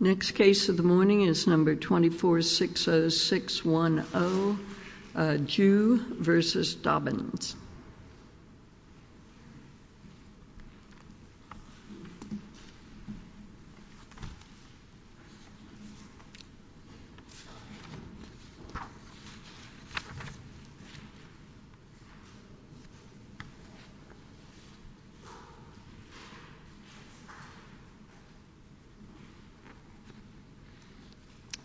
Next case of the morning is number 2460610, Jue v. Dobbins.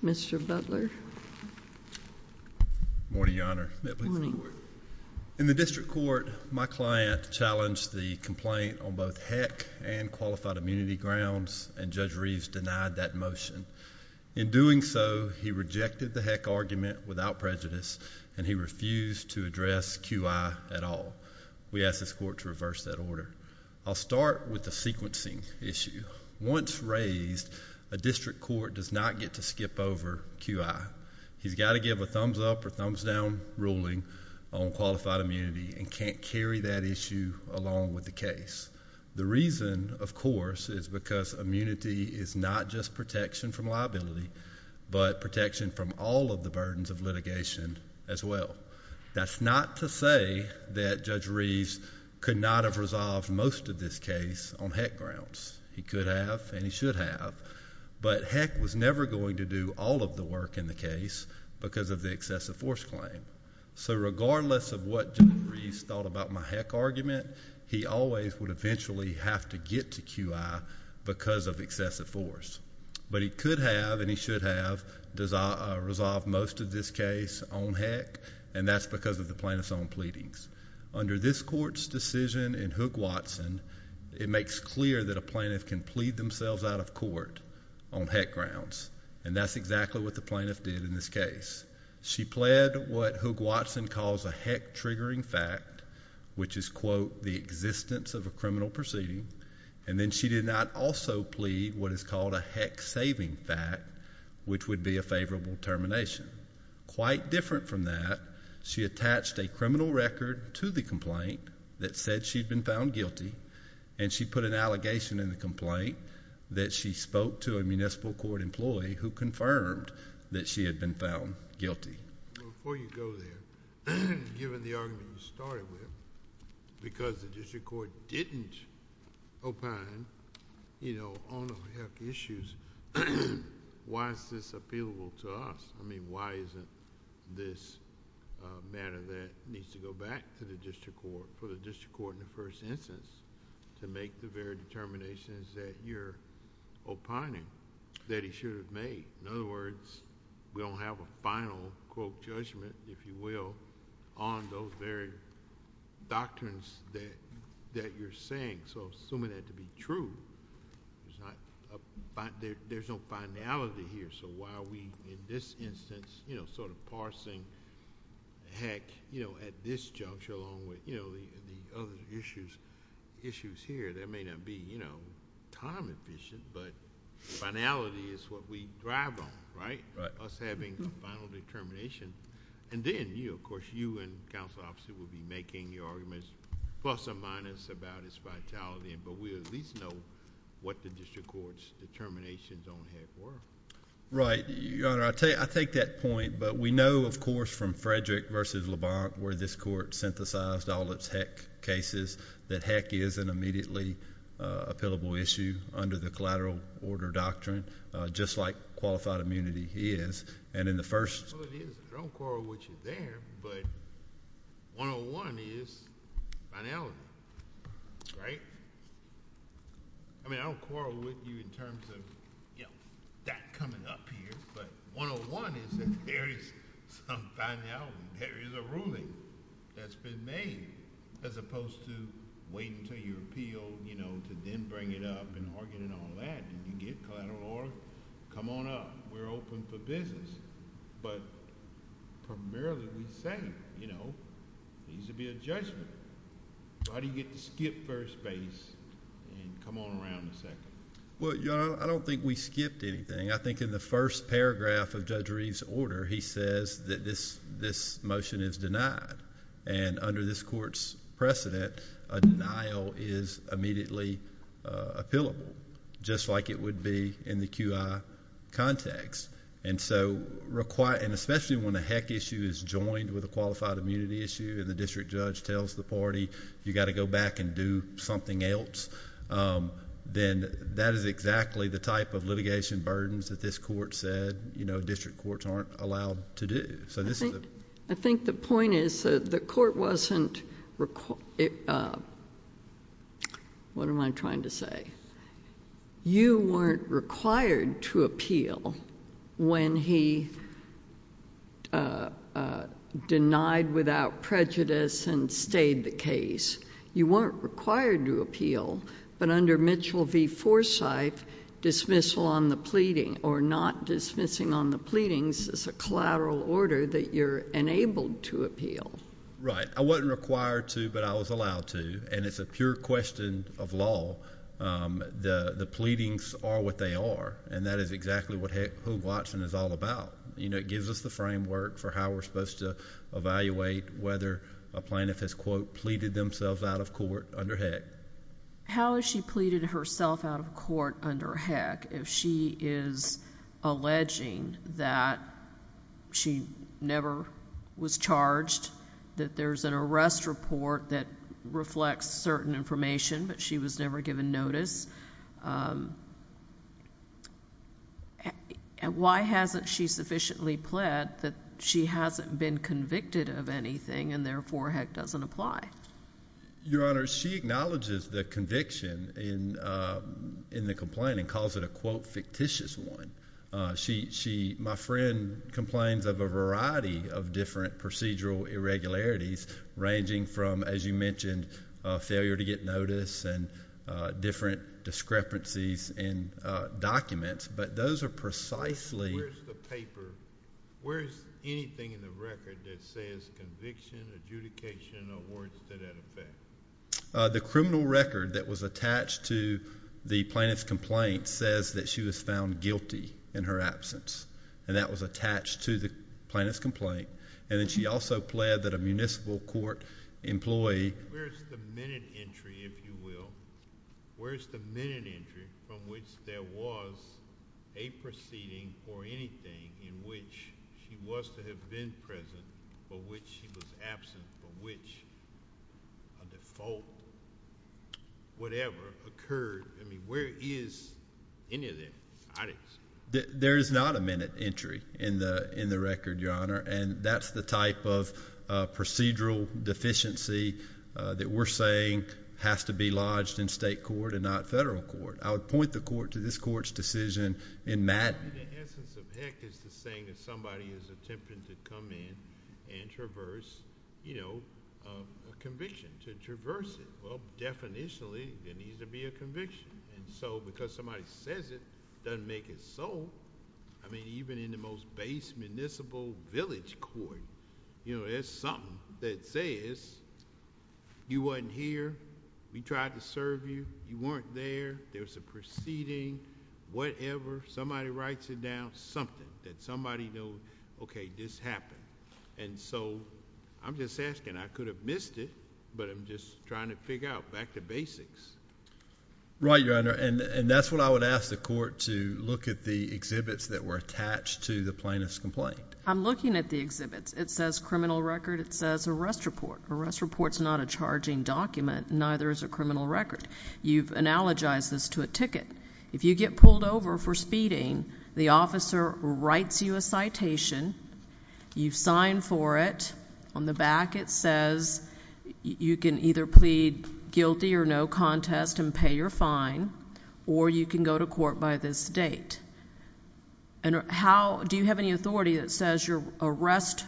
Mr. Butler Morning, Your Honor. In the district court, my client challenged the complaint on both HECC and qualified immunity grounds and Judge Reeves denied that motion. In doing so, he rejected the HECC argument without prejudice and he refused to address QI at all. We ask this court to reverse that order. I'll start with the sequencing issue. Once raised, a district court does not get to skip over QI. He's got to give a thumbs up or thumbs down ruling on qualified immunity and can't carry that issue along with the case. The reason, of course, is because immunity is not just protection from liability, but protection from all of the burdens of litigation as well. That's not to say that Judge Reeves could not have resolved most of this case on HECC grounds. He could have and he should have, but HECC was never going to do all of the work in the case because of the excessive force claim. So regardless of what Judge Reeves thought about my HECC argument, he always would eventually have to get to QI because of excessive force, but he could have and he should have resolved most of this case on HECC and that's because of the plaintiff's own pleadings. Under this court's decision in Hoog-Watson, it makes clear that a plaintiff can plead themselves out of court on HECC grounds and that's exactly what the plaintiff did in this case. She pled what Hoog-Watson calls a HECC-triggering fact, which is, quote, the existence of a criminal proceeding, and then she did not also plead what is called a HECC-saving fact, which would be a favorable termination. Quite different from that, she attached a criminal record to the complaint that said she'd been found guilty and she put an allegation in the complaint that she spoke to a municipal court employee who confirmed that she had been found guilty. Before you go there, given the argument you started with, because the district court didn't opine on the HECC issues, why is this appealable to us? I mean, why isn't this a matter that needs to go back to the district court, for the district court in the first instance, to make the very determinations that you're opining? That he should have made. In other words, we don't have a final, quote, judgment, if you will, on those very doctrines that you're saying, so assuming that to be true, there's no finality here, so why are we, in this instance, sort of parsing HECC at this juncture along with the other issues here? That may not be time-efficient, but finality is what we drive on, right, us having a final determination. Then, of course, you and the counsel officer will be making your arguments plus or minus about its vitality, but we at least know what the district court's determinations on HECC were. Right. Your Honor, I take that point, but we know, of course, from Frederick v. LeBlanc, where this court synthesized all its HECC cases, that HECC is an immediately-appellable issue under the collateral order doctrine, just like qualified immunity is, and in the first... Well, it is. I don't quarrel with you there, but 101 is finality, right? I mean, I don't quarrel with you in terms of, you know, that coming up here, but 101 is that there is some finality, there is a ruling that's been made, as opposed to waiting until you're appealed, you know, to then bring it up and argue it and all that. You get collateral order, come on up. We're open for business, but primarily we say, you know, there needs to be a judgment. Why do you get to skip first base and come on around to second? Well, Your Honor, I don't think we skipped anything. I think in the first paragraph of Judge Reeve's order, he says that this motion is denied, and under this court's precedent, a denial is immediately appellable, just like it would be in the QI context. And so, especially when a HECC issue is joined with a qualified immunity issue, and the district judge tells the party, you've got to go back and do something else, then that is exactly the type of litigation burdens that this court said district courts aren't allowed to do. So this is a— I think the point is that the court wasn't—what am I trying to say? You weren't required to appeal when he denied without prejudice and stayed the case. You weren't required to appeal, but under Mitchell v. Forsythe, dismissal on the pleading or not dismissing on the pleadings is a collateral order that you're enabled to appeal. Right. I wasn't required to, but I was allowed to, and it's a pure question of law. The pleadings are what they are, and that is exactly what Hoog Watson is all about. You know, it gives us the framework for how we're supposed to evaluate whether a plaintiff has, quote, pleaded themselves out of court under HECC. How has she pleaded herself out of court under HECC if she is alleging that she never was charged, that there's an arrest report that reflects certain information, but she was never given notice? Why hasn't she sufficiently pled that she hasn't been convicted of anything, and therefore HECC doesn't apply? Your Honor, she acknowledges the conviction in the complaint and calls it a, quote, fictitious one. My friend complains of a variety of different procedural irregularities ranging from, as you mentioned, failure to get notice and different discrepancies in documents, but those are precisely... Where is anything in the record that says conviction, adjudication, or words that have been... The criminal record that was attached to the plaintiff's complaint says that she was found guilty in her absence, and that was attached to the plaintiff's complaint, and that she also pled that a municipal court employee... Where's the minute entry, if you will? Where's the minute entry from which there was a proceeding for anything in which she was to have been present, for which she was absent, for which a default, whatever, occurred? I mean, where is any of that? There is not a minute entry in the record, Your Honor, and that's the type of procedural deficiency that we're saying has to be lodged in state court and not federal court. I would point the court to this court's decision in Madden. The essence of heck is to say that somebody is attempting to come in and traverse a conviction, to traverse it. Well, definitionally, there needs to be a conviction, and so because somebody says it, doesn't make it so. I mean, even in the most base municipal village court, there's something that says that, okay, this happened, and so I'm just asking, I could have missed it, but I'm just trying to figure out back to basics. Right, Your Honor, and that's what I would ask the court to look at the exhibits that were attached to the plaintiff's complaint. I'm looking at the exhibits. It says criminal record. It says arrest report. Arrest report's not a charging document, neither is a criminal record. You've analogized this to a ticket. If you get pulled over for speeding, the officer writes you a citation. You've signed for it. On the back, it says you can either plead guilty or no contest and pay your fine, or you can go to court by this date. Do you have any authority that says your arrest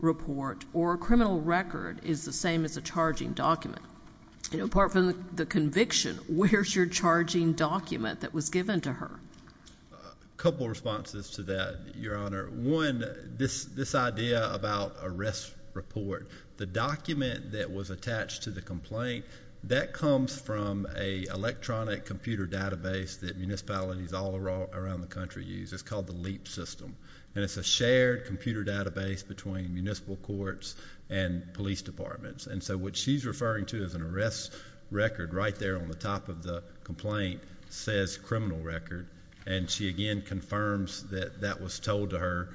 report or criminal record is the same as a charging document? You know, apart from the conviction, where's your charging document that was given to her? Couple of responses to that, Your Honor. One, this idea about arrest report, the document that was attached to the complaint, that comes from an electronic computer database that municipalities all around the country use. It's called the LEAP system, and it's a shared computer database between municipal courts and police departments, and so what she's referring to as an arrest record right there on the top of the complaint says criminal record, and she again confirms that that was told to her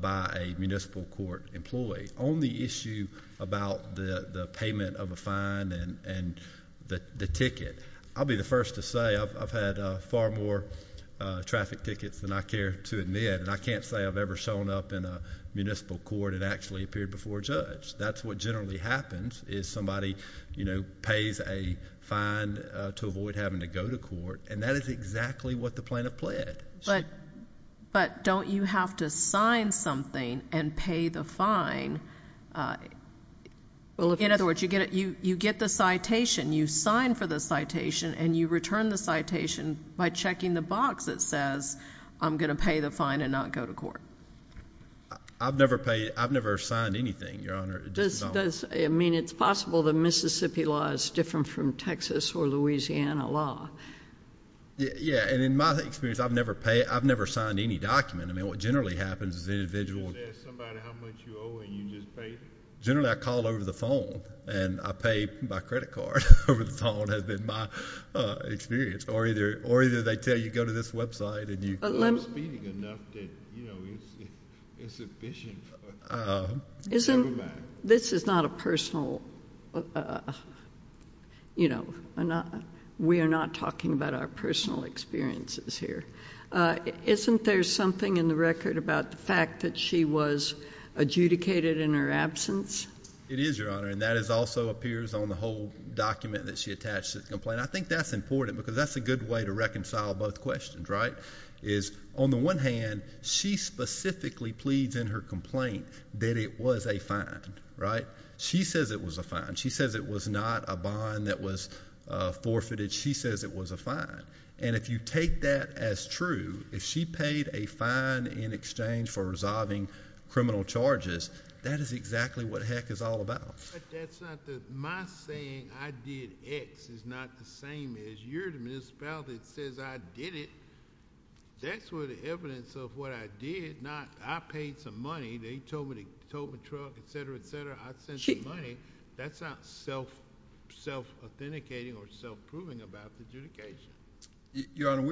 by a municipal court employee. On the issue about the payment of a fine and the ticket, I'll be the first to say I've had far more traffic tickets than I care to admit, and I can't say I've ever shown up in a municipal court and actually appeared before a judge. That's what generally happens is somebody, you know, pays a fine to avoid having to go to court, and that is exactly what the plaintiff pled. But don't you have to sign something and pay the fine? In other words, you get the citation, you sign for the citation, and you return the citation by checking the box that says, I'm going to pay the fine and not go to court. I've never paid, I've never signed anything, Your Honor. Does, I mean, it's possible the Mississippi law is different from Texas or Louisiana law. Yeah, and in my experience, I've never paid, I've never signed any document. I mean, what generally happens is the individual— So there's somebody, how much you owe, and you just pay? Generally, I call over the phone, and I pay by credit card over the phone, has been my experience, or either they tell you go to this website, and you— Well, I'm speeding enough that, you know, it's sufficient for—never mind. This is not a personal, you know, we are not talking about our personal experiences here. Isn't there something in the record about the fact that she was adjudicated in her absence? It is, Your Honor, and that also appears on the whole document that she attached to the I think that's important, because that's a good way to reconcile both questions, right? Is, on the one hand, she specifically pleads in her complaint that it was a fine, right? She says it was a fine. She says it was not a bond that was forfeited. She says it was a fine. And if you take that as true, if she paid a fine in exchange for resolving criminal charges, that is exactly what heck is all about. But that's not the—my saying I did X is not the same as your municipality that says I did it. That's where the evidence of what I did not—I paid some money. They told me to tow a truck, et cetera, et cetera. I sent the money. That's not self-authenticating or self-proving about the adjudication. Your Honor,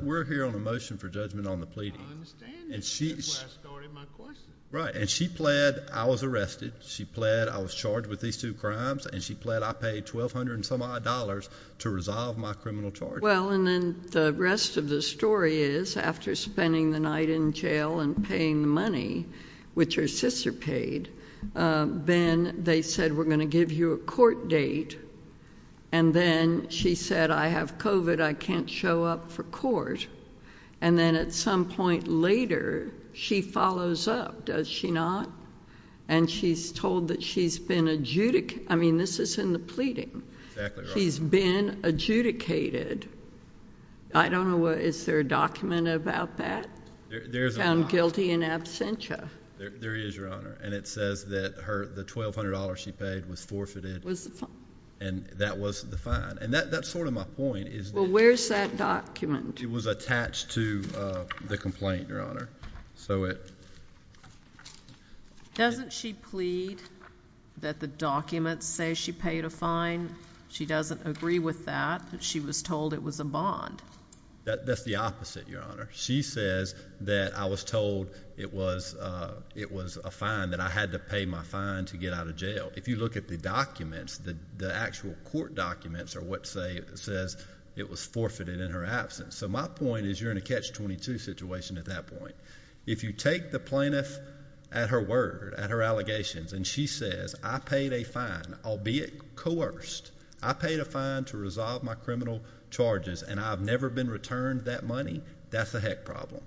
we're here on a motion for judgment on the pleading. I understand. And she— That's where I started my question. Right, and she pled I was arrested. She pled I was charged with these two crimes, and she pled I paid $1,200-and-some-odd to resolve my criminal charges. Well, and then the rest of the story is, after spending the night in jail and paying the money, which her sister paid, then they said, we're going to give you a court date. And then she said, I have COVID. I can't show up for court. And then at some point later, she follows up, does she not? And she's told that she's been adjudicated—I mean, this is in the pleading. Exactly, Your Honor. She's been adjudicated. I don't know what—is there a document about that? There's a lot. Found guilty in absentia. There is, Your Honor. And it says that the $1,200 she paid was forfeited. Was the fine? And that was the fine. And that's sort of my point, is that— Well, where's that document? It was attached to the complaint, Your Honor. So it— Doesn't she plead that the documents say she paid a fine? She doesn't agree with that. She was told it was a bond. That's the opposite, Your Honor. She says that I was told it was a fine, that I had to pay my fine to get out of jail. If you look at the documents, the actual court documents are what say—says it was forfeited in her absence. So my point is, you're in a catch-22 situation at that point. If you take the plaintiff at her word, at her allegations, and she says, I paid a fine, albeit coerced. I paid a fine to resolve my criminal charges, and I've never been returned that money, that's a heck problem.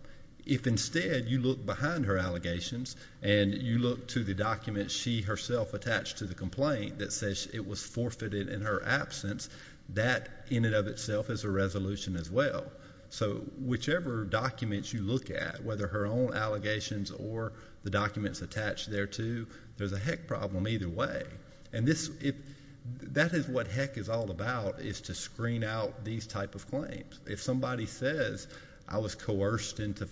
If instead you look behind her allegations, and you look to the documents she herself attached to the complaint that says it was forfeited in her absence, that in and of itself is a resolution as well. So whichever documents you look at, whether her own allegations or the documents attached there too, there's a heck problem either way. And this—that is what heck is all about, is to screen out these type of claims. If somebody says, I was coerced into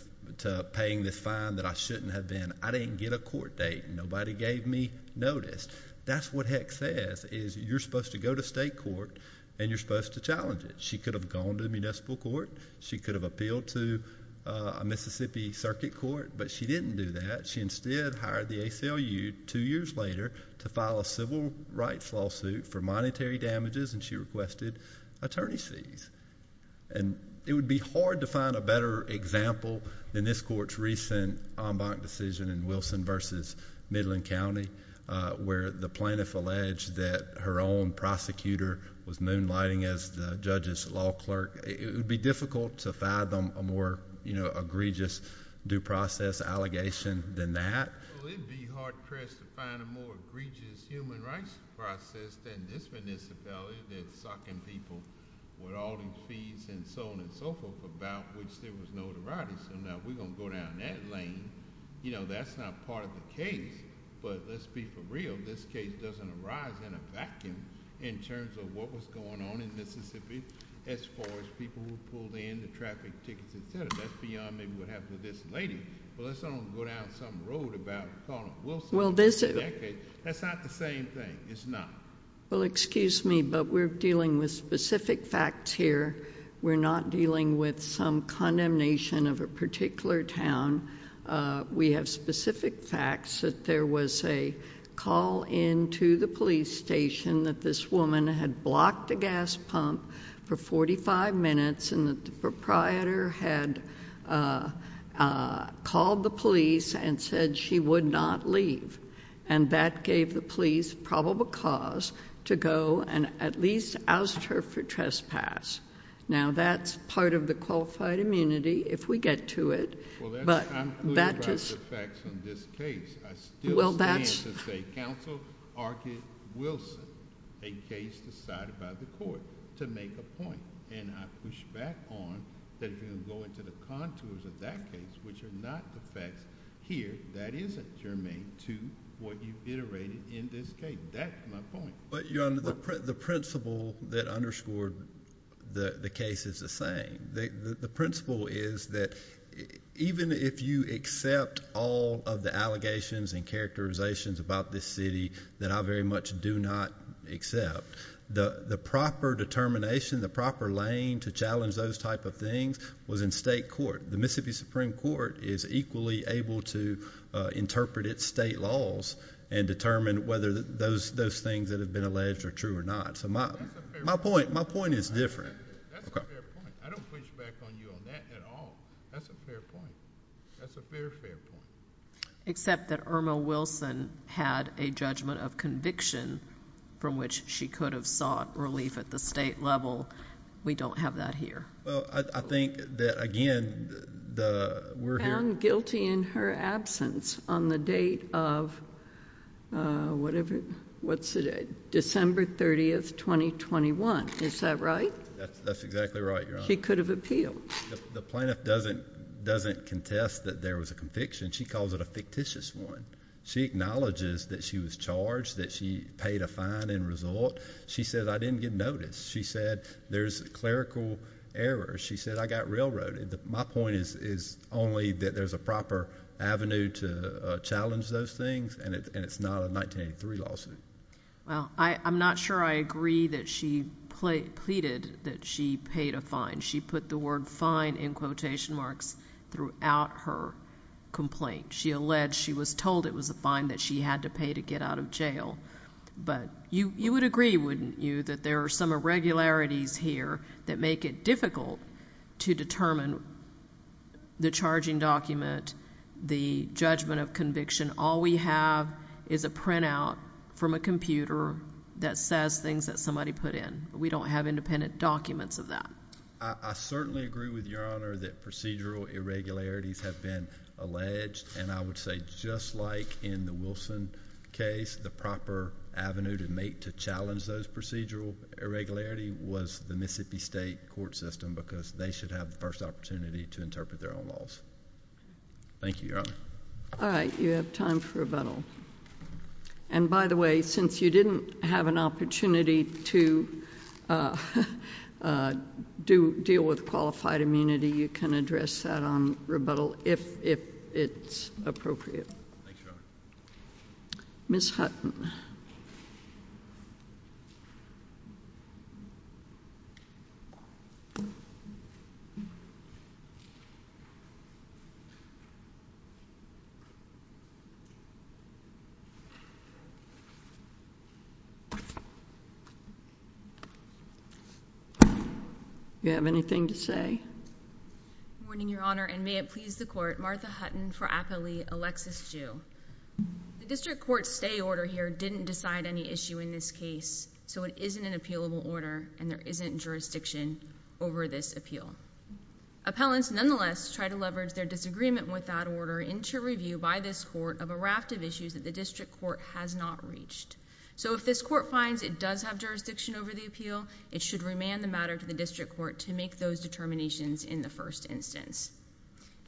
paying this fine that I shouldn't have been, I didn't get a court date. Nobody gave me notice. That's what heck says, is you're supposed to go to state court, and you're supposed to challenge it. She could have gone to municipal court. She could have appealed to a Mississippi circuit court, but she didn't do that. She instead hired the ACLU two years later to file a civil rights lawsuit for monetary damages, and she requested attorney's fees. And it would be hard to find a better example than this court's recent en banc decision in Wilson v. Midland County, where the plaintiff alleged that her own prosecutor was moonlighting as the judge's law clerk. It would be difficult to fathom a more egregious due process allegation than that. It would be hard pressed to find a more egregious human rights process than this municipality that's sucking people with all these fees and so on and so forth about which there was notoriety. So now if we're going to go down that lane, you know, that's not part of the case. But let's be for real, this case doesn't arise in a vacuum in terms of what was going on in Mississippi as far as people were pulled in, the traffic tickets, et cetera. That's beyond maybe what happened to this lady. But let's not go down some road about calling Wilson. That's not the same thing. It's not. Well, excuse me, but we're dealing with specific facts here. We're not dealing with some condemnation of a particular town. We have specific facts that there was a call in to the police station that this woman had blocked a gas pump for 45 minutes and that the proprietor had called the police and said she would not leave. And that gave the police probable cause to go and at least oust her for trespass. Now, that's part of the qualified immunity if we get to it. Well, I'm clear about the facts on this case. I still stand to say Counsel argued Wilson, a case decided by the court, to make a point. And I push back on that if you're going to go into the contours of that case, which are not the facts here, that isn't germane to what you've iterated in this case. That's my point. But, Your Honor, the principle that underscored the case is the same. The principle is that even if you accept all of the allegations and characterizations about this city that I very much do not accept, the proper determination, the proper lane to challenge those type of things was in state court. The Mississippi Supreme Court is equally able to interpret its state laws and determine whether those things that have been alleged are true or not. So my point is different. That's a fair point. I don't push back on you on that at all. That's a fair point. That's a fair, fair point. Except that Irma Wilson had a judgment of conviction from which she could have sought relief at the state level. We don't have that here. Well, I think that, again, we're here. Found guilty in her absence on the date of December 30, 2021. Is that right? That's exactly right, Your Honor. She could have appealed. The plaintiff doesn't contest that there was a conviction. She calls it a fictitious one. She acknowledges that she was charged, that she paid a fine in result. She said, I didn't get noticed. She said, there's clerical errors. She said, I got railroaded. My point is only that there's a proper avenue to challenge those things, and it's not a 1983 lawsuit. Well, I'm not sure I agree that she pleaded that she paid a fine. She put the word fine in quotation marks throughout her complaint. She alleged she was told it was a fine that she had to pay to get out of jail. But you would agree, wouldn't you, that there are some irregularities here that make it difficult to determine the charging document, the judgment of conviction. All we have is a printout from a computer that says things that somebody put in. We don't have independent documents of that. I certainly agree with Your Honor that procedural irregularities have been alleged. And I would say just like in the Wilson case, the proper avenue to make, to challenge those procedural irregularity was the Mississippi State court system because they should have the first opportunity to interpret their own laws. Thank you, Your Honor. All right, you have time for rebuttal. And by the way, since you didn't have an opportunity to deal with qualified immunity, you can address that on rebuttal if it's appropriate. Thank you, Your Honor. Ms. Hutton. You have anything to say? Good morning, Your Honor. And may it please the court, Martha Hutton for aptly Alexis Jew. The district court's stay order here didn't decide any issue in this case, so it isn't an appealable order and there isn't jurisdiction over this appeal. Appellants nonetheless try to leverage their disagreement with that order into review by this court of a raft of issues that the district court has not reached. So if this court finds it does have jurisdiction over the appeal, it should remand the matter to the district court to make those determinations in the first instance.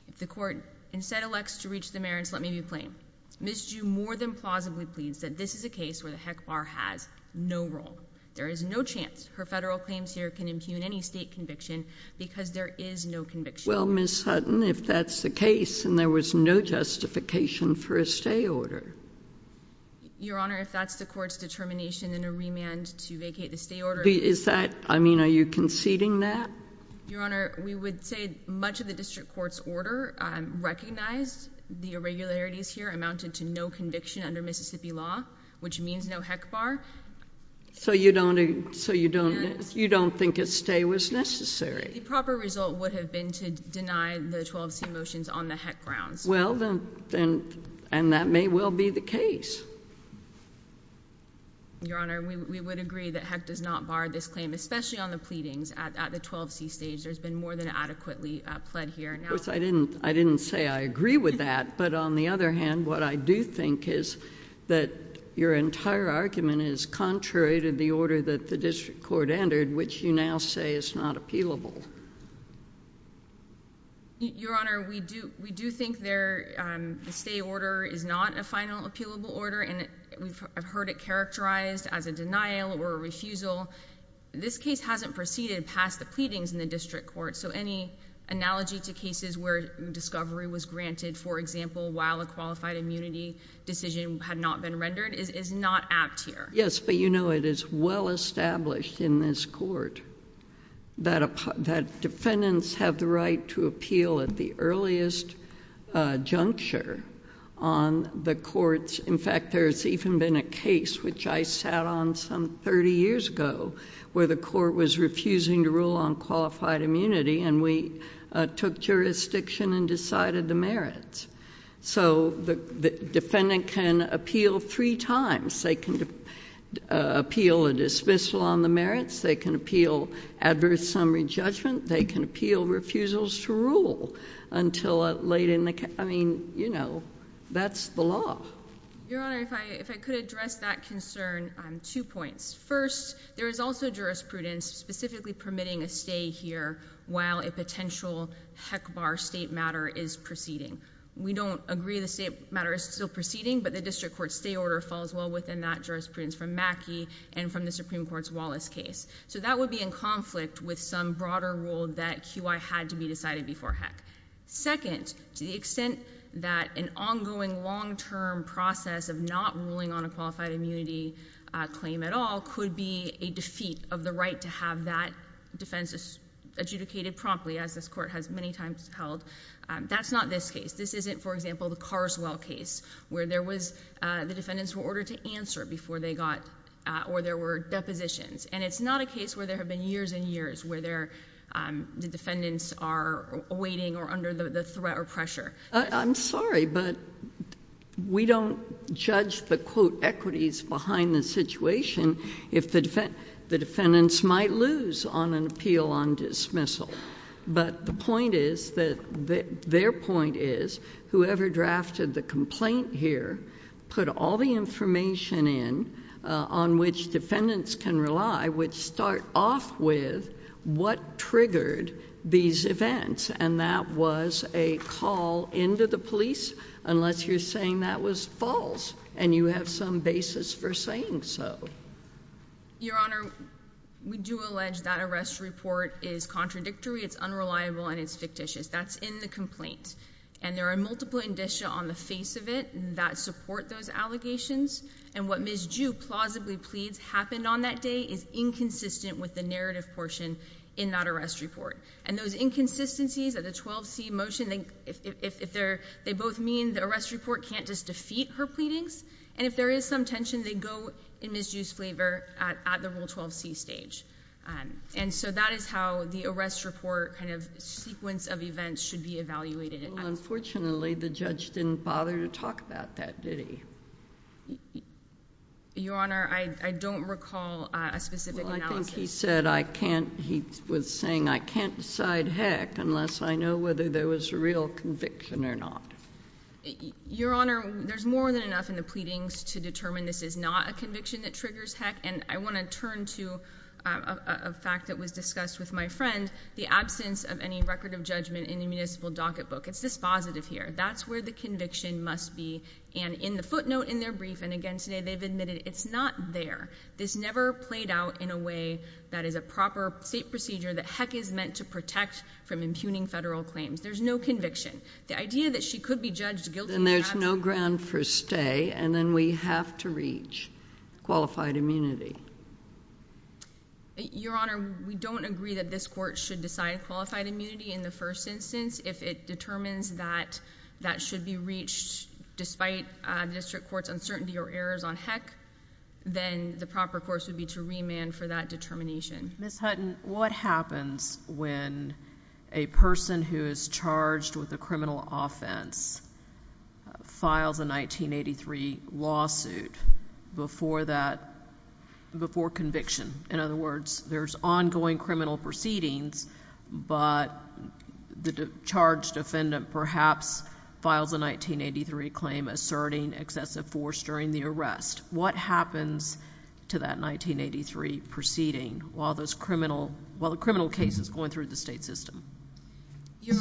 If the court instead elects to reach the merits, let me be plain. Ms. Jew more than plausibly pleads that this is a case where the heck bar has no role. There is no chance her federal claims here can impugn any state conviction because there is no conviction. Well, Ms. Hutton, if that's the case and there was no justification for a stay order. Your Honor, if that's the court's determination in a remand to vacate the stay order. Is that, I mean, are you conceding that? Your Honor, we would say much of the district court's order recognized the irregularities here amounted to no conviction under Mississippi law, which means no heck bar. So you don't think a stay was necessary? The proper result would have been to deny the 12C motions on the heck grounds. Well, then, and that may well be the case. Your Honor, we would agree that heck does not bar this claim, especially on the pleadings at the 12C stage. There's been more than adequately pled here. Of course, I didn't say I agree with that. But on the other hand, what I do think is that your entire argument is contrary to the order that the district court entered, which you now say is not appealable. Your Honor, we do think the stay order is not a final appealable order. And I've heard it characterized as a denial or a refusal. This case hasn't proceeded past the pleadings in the district court. So any analogy to cases where discovery was granted, for example, while a qualified immunity decision had not been rendered is not apt here. Yes, but you know it is well established in this court that defendants have the right to appeal at the earliest juncture on the courts. In fact, there's even been a case, which I sat on some 30 years ago, where the court was refusing to rule on qualified immunity and we took jurisdiction and decided the merits. So the defendant can appeal three times. They can appeal a dismissal on the merits. They can appeal adverse summary judgment. They can appeal refusals to rule until late in the, I mean, that's the law. Your Honor, if I could address that concern on two points. First, there is also jurisprudence specifically permitting a stay here while a potential HECBAR state matter is proceeding. We don't agree the state matter is still proceeding, but the district court stay order falls well within that jurisprudence from Mackey and from the Supreme Court's Wallace case. So that would be in conflict with some broader rule that QI had to be decided before HEC. Second, to the extent that an ongoing long-term process of not ruling on a qualified immunity claim at all could be a defeat of the right to have that defense adjudicated promptly, as this court has many times held, that's not this case. This isn't, for example, the Carswell case where there was, the defendants were ordered to answer before they got, or there were depositions. And it's not a case where there have been years and years where the defendants are awaiting or under the threat or pressure. I'm sorry, but we don't judge the, quote, equities behind the situation if the defendants might lose on an appeal on dismissal. But the point is that, their point is, whoever drafted the complaint here put all the information in on which defendants can rely, which start off with what triggered these events. And that was a call into the police, unless you're saying that was false, and you have some basis for saying so. Your Honor, we do allege that arrest report is contradictory, it's unreliable, and it's fictitious. That's in the complaint. And there are multiple indicia on the face of it that support those allegations. And what Ms. Ju plausibly pleads happened on that day is inconsistent with the narrative portion in that arrest report. And those inconsistencies of the 12C motion, if they're, they both mean the arrest report can't just defeat her pleadings. And if there is some tension, they go in Ms. Ju's favor at the Rule 12C stage. And so that is how the arrest report kind of sequence of events should be evaluated. Unfortunately, the judge didn't bother to talk about that, did he? Your Honor, I don't recall a specific analysis. Well, I think he said, I can't, he was saying, I can't decide heck unless I know whether there was a real conviction or not. Your Honor, there's more than enough in the pleadings to determine this is not a conviction that triggers heck. And I want to turn to a fact that was discussed with my friend, the absence of any record of judgment in the municipal docket book. It's dispositive here. That's where the conviction must be. And in the footnote in their brief, and again today, they've admitted it's not there. This never played out in a way that is a proper state procedure that heck is meant to protect from impugning federal claims. There's no conviction. The idea that she could be judged guilty. Then there's no ground for stay. And then we have to reach qualified immunity. Your Honor, we don't agree that this court should decide qualified immunity in the first instance. If it determines that that should be reached despite the district court's uncertainty or errors on heck, then the proper course would be to remand for that determination. Ms. Hutton, what happens when a person who is charged with a criminal offense files a 1983 lawsuit before conviction? In other words, there's ongoing criminal proceedings, but the charged defendant perhaps files a 1983 claim asserting excessive force during the arrest. What happens to that 1983 proceeding while the criminal case is going through the state system? Your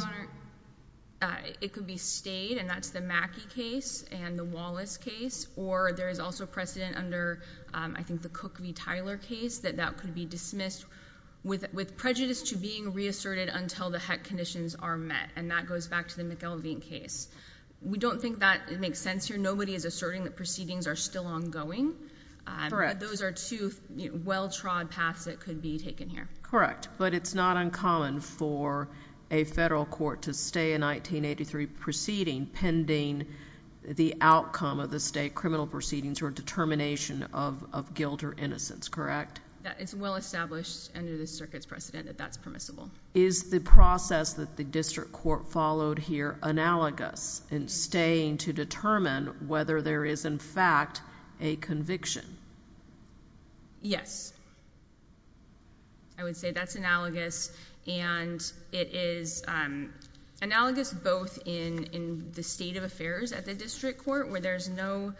Honor, it could be stayed, and that's the Mackey case and the Wallace case. Or there is also precedent under, I think, the Cook v. Tyler case that that could be dismissed with prejudice to being reasserted until the heck conditions are met. And that goes back to the McElveen case. We don't think that it makes sense here. Nobody is asserting that proceedings are still ongoing. Correct. Those are two well-trod paths that could be taken here. Correct. But it's not uncommon for a federal court to stay a 1983 proceeding pending the outcome of the state criminal proceedings or determination of guilt or innocence, correct? It's well established under the circuit's precedent that that's permissible. Is the process that the district court followed here analogous in staying to determine whether there is, in fact, a conviction? Yes, I would say that's analogous. And it is analogous both in the state of affairs at the district court, where there's no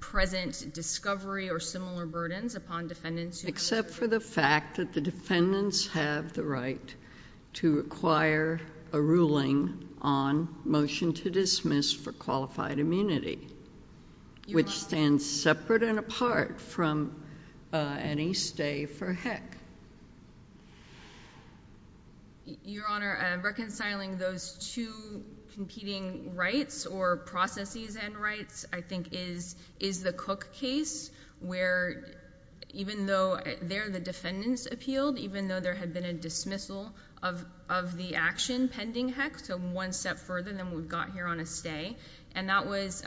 present discovery or similar burdens upon defendants. Except for the fact that the defendants have the right to require a ruling on motion to dismiss for qualified immunity, which stands separate and apart from any stay for heck. Your Honor, reconciling those two competing rights or processes and rights, I think, is the Cook case, where even though there the defendants appealed, even though there had been a dismissal of the action pending heck, so one step further than what we've got here on a stay, and that was,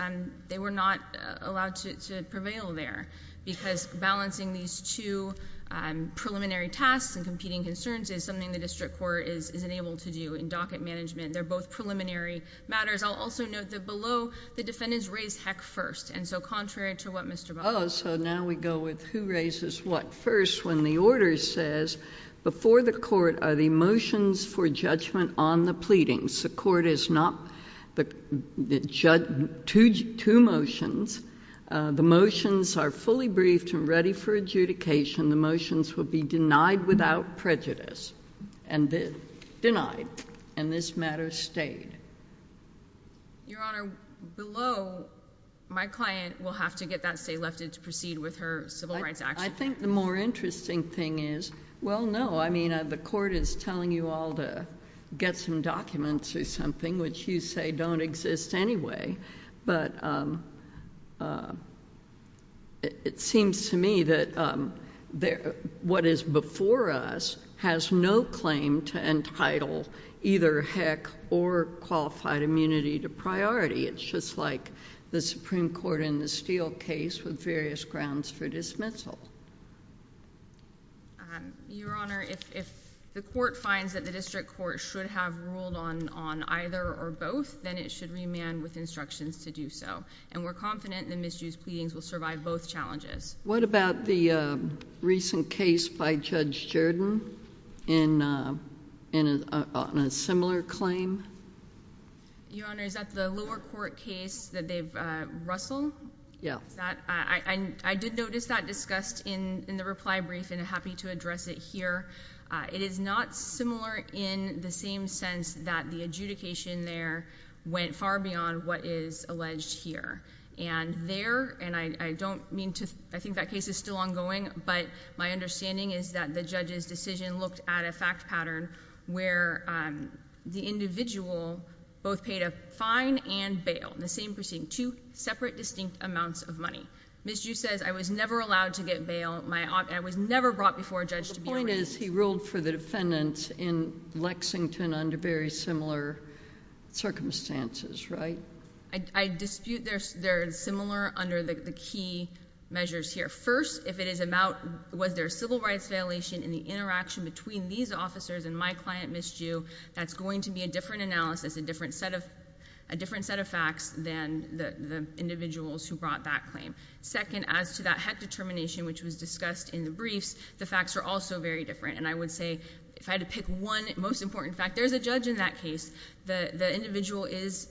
they were not allowed to prevail there because balancing these two preliminary tasks and competing concerns is something the district court is unable to do in docket management. They're both preliminary matters. I'll also note that below, the defendants raised heck first. Contrary to what Mr. Butler said. Oh, so now we go with who raises what first when the order says, before the court are the motions for judgment on the pleadings. The court is not, two motions. The motions are fully briefed and ready for adjudication. The motions will be denied without prejudice. Denied. And this matter stayed. Your Honor, below, my client will have to get that stay lifted to proceed with her civil rights action. I think the more interesting thing is, well, no. I mean, the court is telling you all to get some documents or something, which you say don't exist anyway, but it seems to me that what is before us has no claim to entitled either heck or qualified immunity to priority. It's just like the Supreme Court in the Steele case with various grounds for dismissal. Your Honor, if the court finds that the district court should have ruled on either or both, then it should remand with instructions to do so. And we're confident the misused pleadings will survive both challenges. What about the recent case by Judge Jordan in a similar claim? Your Honor, is that the lower court case that they've, Russell? Yeah. Is that, I did notice that discussed in the reply brief and happy to address it here. It is not similar in the same sense that the adjudication there went far beyond what is alleged here. And there, and I don't mean to, I think that case is still ongoing, but my understanding is that the judge's decision looked at a fact pattern where the individual both paid a fine and bail in the same proceeding. Two separate distinct amounts of money. Ms. Ju says, I was never allowed to get bail. I was never brought before a judge to be arraigned. The point is he ruled for the defendants in Lexington under very similar circumstances, right? I dispute they're similar under the key measures here. First, if it is about was there a civil rights violation in the interaction between these officers and my client, Ms. Ju, that's going to be a different analysis, a different set of facts than the individuals who brought that claim. Second, as to that HEC determination, which was discussed in the briefs, the facts are also very different. And I would say if I had to pick one most important fact, there's a judge in that case. The individual is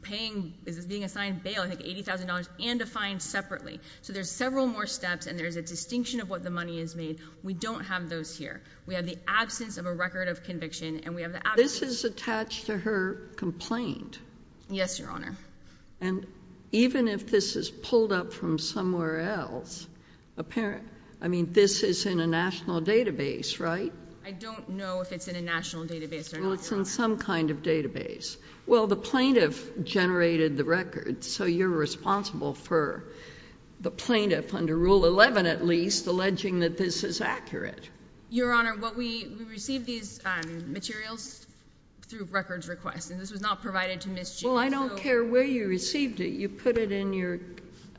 being assigned bail, I think $80,000, and a fine separately. So there's several more steps, and there's a distinction of what the money is made. We don't have those here. We have the absence of a record of conviction, and we have the absence of... This is attached to her complaint. Yes, Your Honor. And even if this is pulled up from somewhere else, I mean, this is in a national database, right? I don't know if it's in a national database or not, Your Honor. Well, it's in some kind of database. Well, the plaintiff generated the record, so you're responsible for the plaintiff under Rule 11, at least, alleging that this is accurate. Your Honor, we received these materials through records request, and this was not provided to Ms. Ju. Well, I don't care where you received it. You put it in your...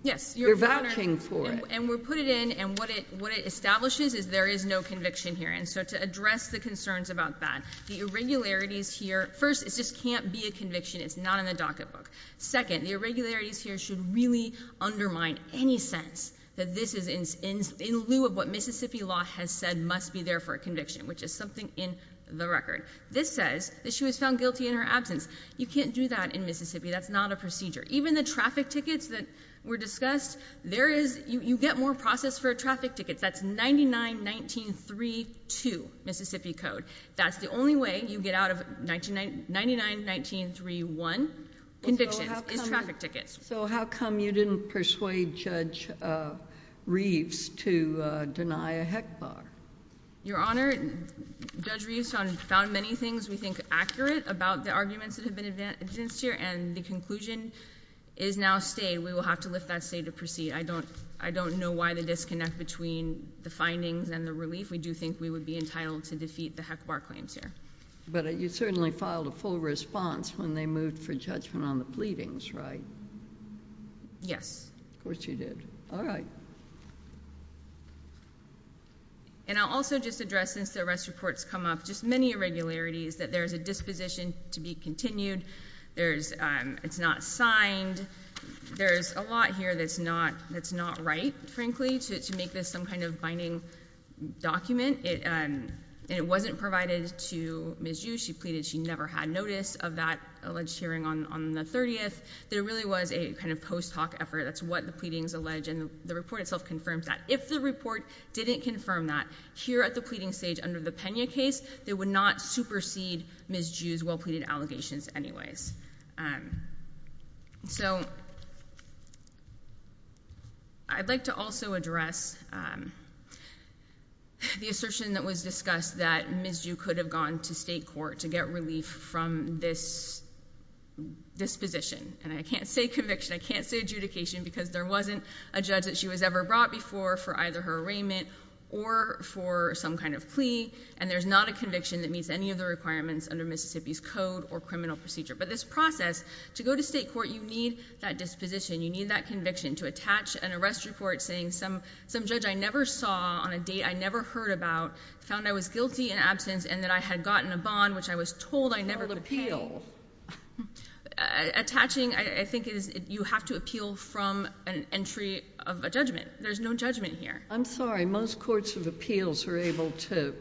Yes, Your Honor. You're vouching for it. And we put it in, and what it establishes is there is no conviction here. So to address the concerns about that, the irregularities here... First, it just can't be a conviction. It's not in the docketbook. Second, the irregularities here should really undermine any sense that this is in lieu of what Mississippi law has said must be there for a conviction, which is something in the record. This says that she was found guilty in her absence. You can't do that in Mississippi. That's not a procedure. Even the traffic tickets that were discussed, you get more process for traffic tickets. That's 99-19-3-2 Mississippi Code. That's the only way you get out of 99-19-3-1 convictions is traffic tickets. So how come you didn't persuade Judge Reeves to deny a heck bar? Your Honor, Judge Reeves found many things we think accurate about the arguments that have been advanced here, and the conclusion is now stayed. We will have to lift that state of proceed. I don't know why the disconnect between the findings and the relief. We do think we would be entitled to defeat the heck bar claims here. But you certainly filed a full response when they moved for judgment on the pleadings, right? Yes. Of course you did. All right. And I'll also just address, since the arrest reports come up, just many irregularities that there's a disposition to be continued. It's not signed. There's a lot here that's not right, frankly, to make this some kind of binding document. And it wasn't provided to Ms. Jew. She pleaded she never had notice of that alleged hearing on the 30th. There really was a kind of post hoc effort. That's what the pleadings allege. And the report itself confirms that. If the report didn't confirm that here at the pleading stage under the Pena case, they would not supersede Ms. Jew's well-pleaded allegations anyways. And so I'd like to also address the assertion that was discussed that Ms. Jew could have gone to state court to get relief from this disposition. And I can't say conviction. I can't say adjudication. Because there wasn't a judge that she was ever brought before for either her arraignment or for some kind of plea. And there's not a conviction that meets any of the requirements under Mississippi's code or criminal procedure. But this process, to go to state court, you need that disposition. You need that conviction to attach an arrest report saying some judge I never saw on a date I never heard about found I was guilty in absence and that I had gotten a bond, which I was told I never would pay. Attaching, I think, is you have to appeal from an entry of a judgment. There's no judgment here. I'm sorry. Most courts of appeals are able to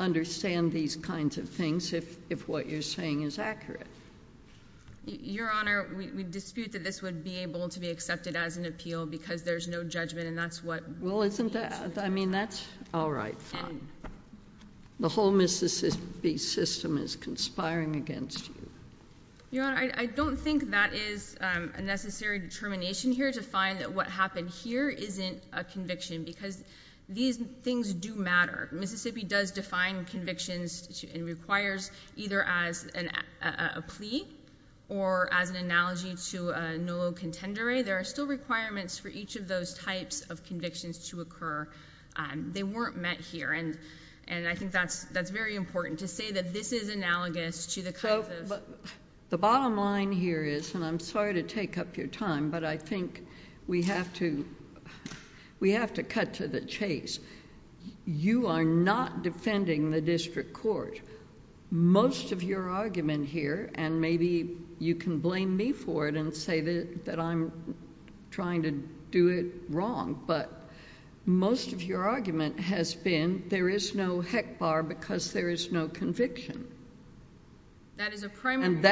understand these kinds of things if what you're saying is accurate. Your Honor, we dispute that this would be able to be accepted as an appeal because there's no judgment. And that's what— Well, isn't that—I mean, that's all right, fine. The whole Mississippi system is conspiring against you. Your Honor, I don't think that is a necessary determination here to find that what happened here isn't a conviction. Because these things do matter. Mississippi does define convictions and requires either as a plea or as an analogy to a nullo contendere. There are still requirements for each of those types of convictions to occur. They weren't met here. And I think that's very important to say that this is analogous to the kinds of— So the bottom line here is—and I'm sorry to take up your time, but I think we have to—we have to cut to the chase. You are not defending the district court. Most of your argument here, and maybe you can blame me for it and say that I'm trying to do it wrong, but most of your argument has been there is no heck bar because there is no conviction. That is a primary— And if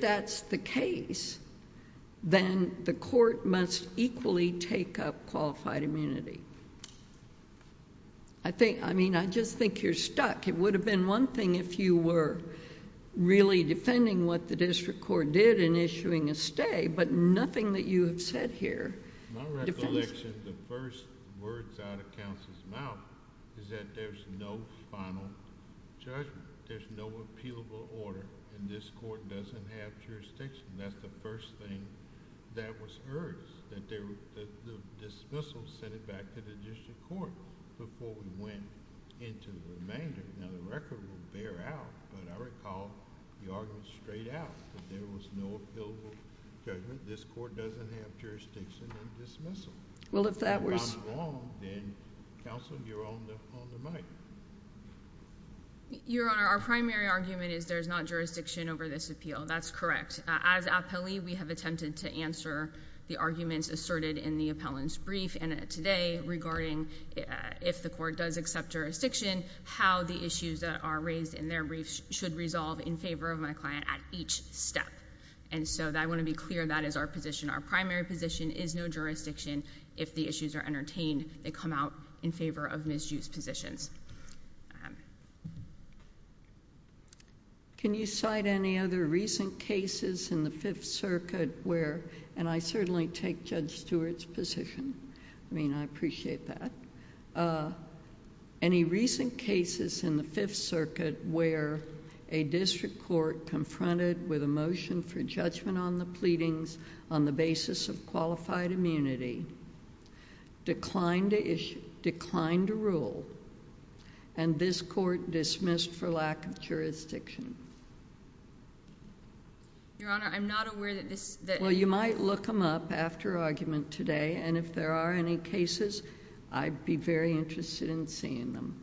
that's the case, then the court must equally take up qualified immunity. I think—I mean, I just think you're stuck. It would have been one thing if you were really defending what the district court did in issuing a stay, but nothing that you have said here— My recollection, the first words out of counsel's mouth is that there's no final judgment. There's no appealable order, and this court doesn't have jurisdiction. That's the first thing that was heard, that the dismissal was sent back to the district court before we went into the remainder. Now, the record will bear out, but I recall you argued straight out that there was no appealable judgment. This court doesn't have jurisdiction or dismissal. Well, if that was— If I'm wrong, then, counsel, you're on the mic. Your Honor, our primary argument is there's not jurisdiction over this appeal. That's correct. As appellee, we have attempted to answer the arguments asserted in the appellant's brief today regarding if the court does accept jurisdiction, how the issues that are raised in their brief should resolve in favor of my client at each step. And so I want to be clear that is our position. Our primary position is no jurisdiction. If the issues are entertained, they come out in favor of misused positions. Can you cite any other recent cases in the Fifth Circuit where, and I certainly take Judge Stewart's position, I mean, I appreciate that. Any recent cases in the Fifth Circuit where a district court confronted with a motion for judgment on the pleadings on the basis of qualified immunity, declined to rule, and this court dismissed for lack of jurisdiction? Your Honor, I'm not aware that this— Well, you might look them up after argument today, and if there are any cases, I'd be very interested in seeing them.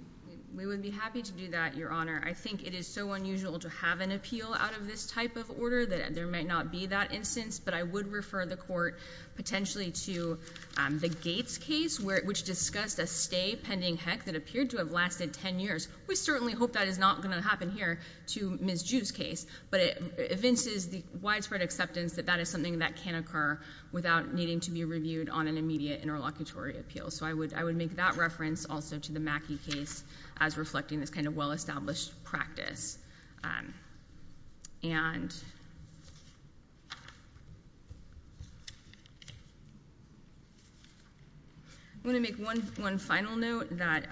We would be happy to do that, Your Honor. I think it is so unusual to have an appeal out of this type of order that there might not be that instance, but I would refer the court potentially to the Gates case, which discussed a stay pending HEC that appeared to have lasted 10 years. We certainly hope that is not going to happen here to Ms. Jew's case, but it evinces the widespread acceptance that that is something that can occur without needing to be reviewed on an immediate interlocutory appeal. So I would make that reference also to the Mackey case as reflecting this kind of well-established practice. I'm going to make one final note that,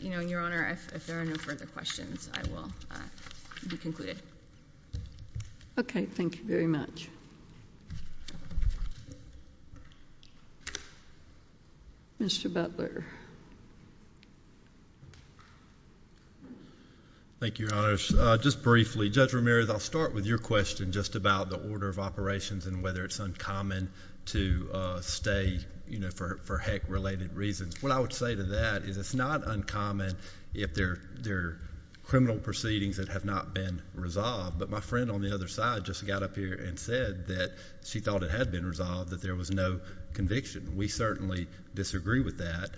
Your Honor, if there are no further questions, I will be concluded. Okay. Thank you very much. Mr. Butler. Thank you, Your Honor. Just briefly, Judge Ramirez, I'll start with your question just about the order of operations and whether it's uncommon to stay, you know, for HEC-related reasons. What I would say to that is it's not uncommon if there are criminal proceedings that have not been resolved, but my friend on the other side just got up here and said that she thought it had been resolved, that there was no conviction. We certainly disagree with that,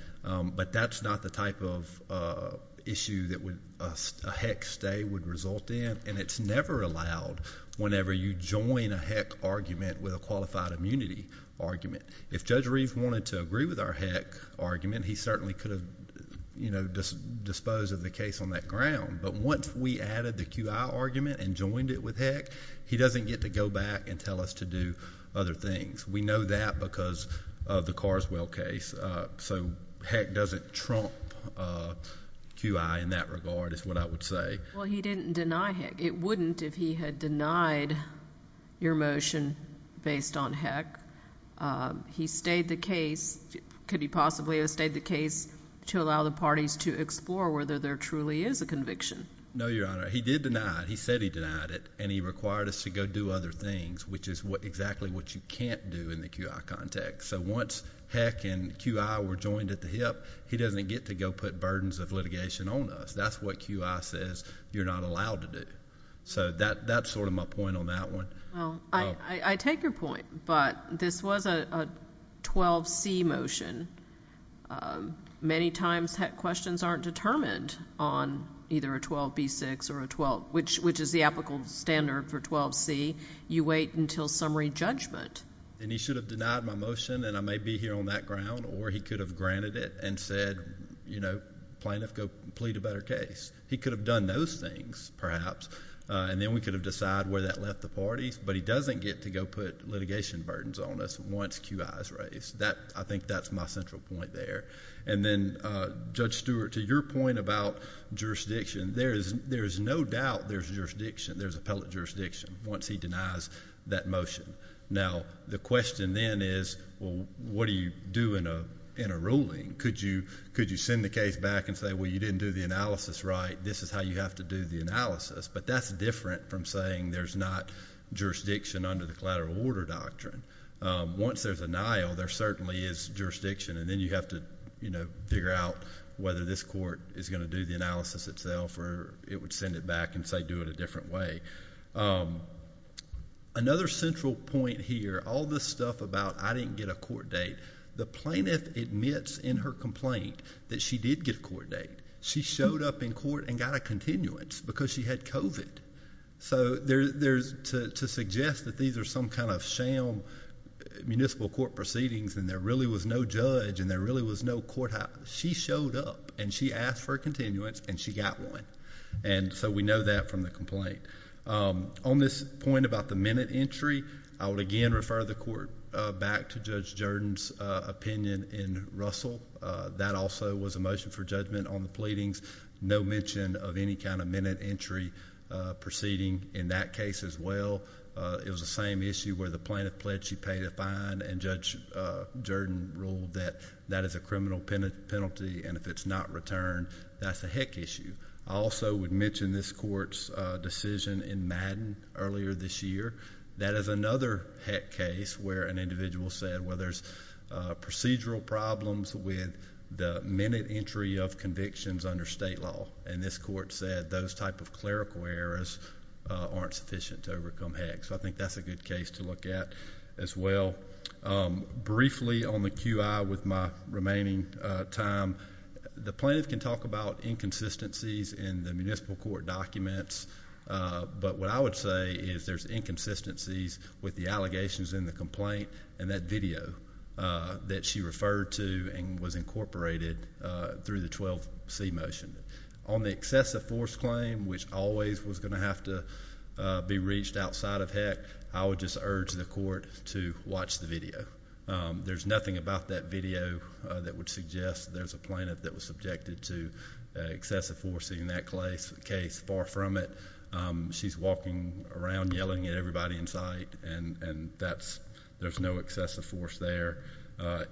but that's not the type of issue that a HEC stay would result in, and it's never allowed whenever you join a HEC argument with a qualified immunity argument. If Judge Reeve wanted to agree with our HEC argument, he certainly could have, you know, disposed of the case on that ground, but once we added the QI argument and joined it with HEC, he doesn't get to go back and tell us to do other things. We know that because of the Carswell case, so HEC doesn't trump QI in that regard is what I would say. Well, he didn't deny HEC. It wouldn't if he had denied your motion based on HEC. He stayed the case. Could he possibly have stayed the case to allow the parties to explore whether there truly is a conviction? No, Your Honor. He did deny it. He said he denied it, and he required us to go do other things, which is exactly what you can't do in the QI context, so once HEC and QI were joined at the hip, he doesn't get to go put burdens of litigation on us. That's what QI says you're not allowed to do, so that's sort of my point on that one. Well, I take your point, but this was a 12C motion. Many times HEC questions aren't determined on either a 12B6 or a 12, which is the applicable standard for 12C. You wait until summary judgment. And he should have denied my motion, and I may be here on that ground, or he could have granted it and said, you know, plaintiff, go plead a better case. He could have done those things, perhaps, and then we could have decided where that left the parties, but he doesn't get to go put litigation burdens on us once QI is raised. I think that's my central point there, and then, Judge Stewart, to your point about jurisdiction, there is no doubt there's jurisdiction. There's appellate jurisdiction once he denies that motion. Now, the question then is, well, what do you do in a ruling? Could you send the case back and say, well, you didn't do the analysis right. This is how you have to do the analysis. But that's different from saying there's not jurisdiction under the collateral order doctrine. Once there's denial, there certainly is jurisdiction, and then you have to, you know, figure out whether this court is going to do the analysis itself, or it would send it back and say, do it a different way. Another central point here, all this stuff about I didn't get a court date, the plaintiff admits in her complaint that she did get a court date. She showed up in court and got a continuance because she had COVID. So, to suggest that these are some kind of sham municipal court proceedings and there really was no judge and there really was no courthouse, she showed up and she asked for a continuance and she got one. And so, we know that from the complaint. On this point about the minute entry, I would again refer the court back to Judge Jordan's opinion in Russell. That also was a motion for judgment on the pleadings. No mention of any kind of minute entry proceeding in that case as well. It was the same issue where the plaintiff pledged she paid a fine and Judge Jordan ruled that that is a criminal penalty and if it's not returned, that's a heck issue. I also would mention this court's decision in Madden earlier this year. That is another heck case where an individual said, well, there's procedural problems with the minute entry of convictions under state law. And this court said those type of clerical errors aren't sufficient to overcome heck. So, I think that's a good case to look at as well. Briefly on the QI with my remaining time, the plaintiff can talk about inconsistencies in the municipal court documents. But what I would say is there's inconsistencies with the allegations in the complaint and that video that she referred to and was incorporated through the 12C motion. On the excessive force claim, which always was going to have to be reached outside of heck, I would just urge the court to watch the video. There's nothing about that video that would suggest there's a plaintiff that was subjected to excessive force in that case. Far from it. She's walking around yelling at everybody in sight and there's no excessive force there.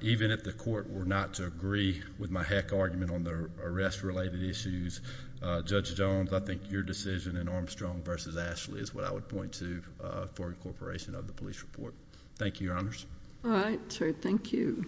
Even if the court were not to agree with my heck argument on the arrest related issues, Judge Jones, I think your decision in Armstrong v. Ashley is what I would point to for incorporation of the police report. Thank you, Your Honors. All right, sir. Thank you.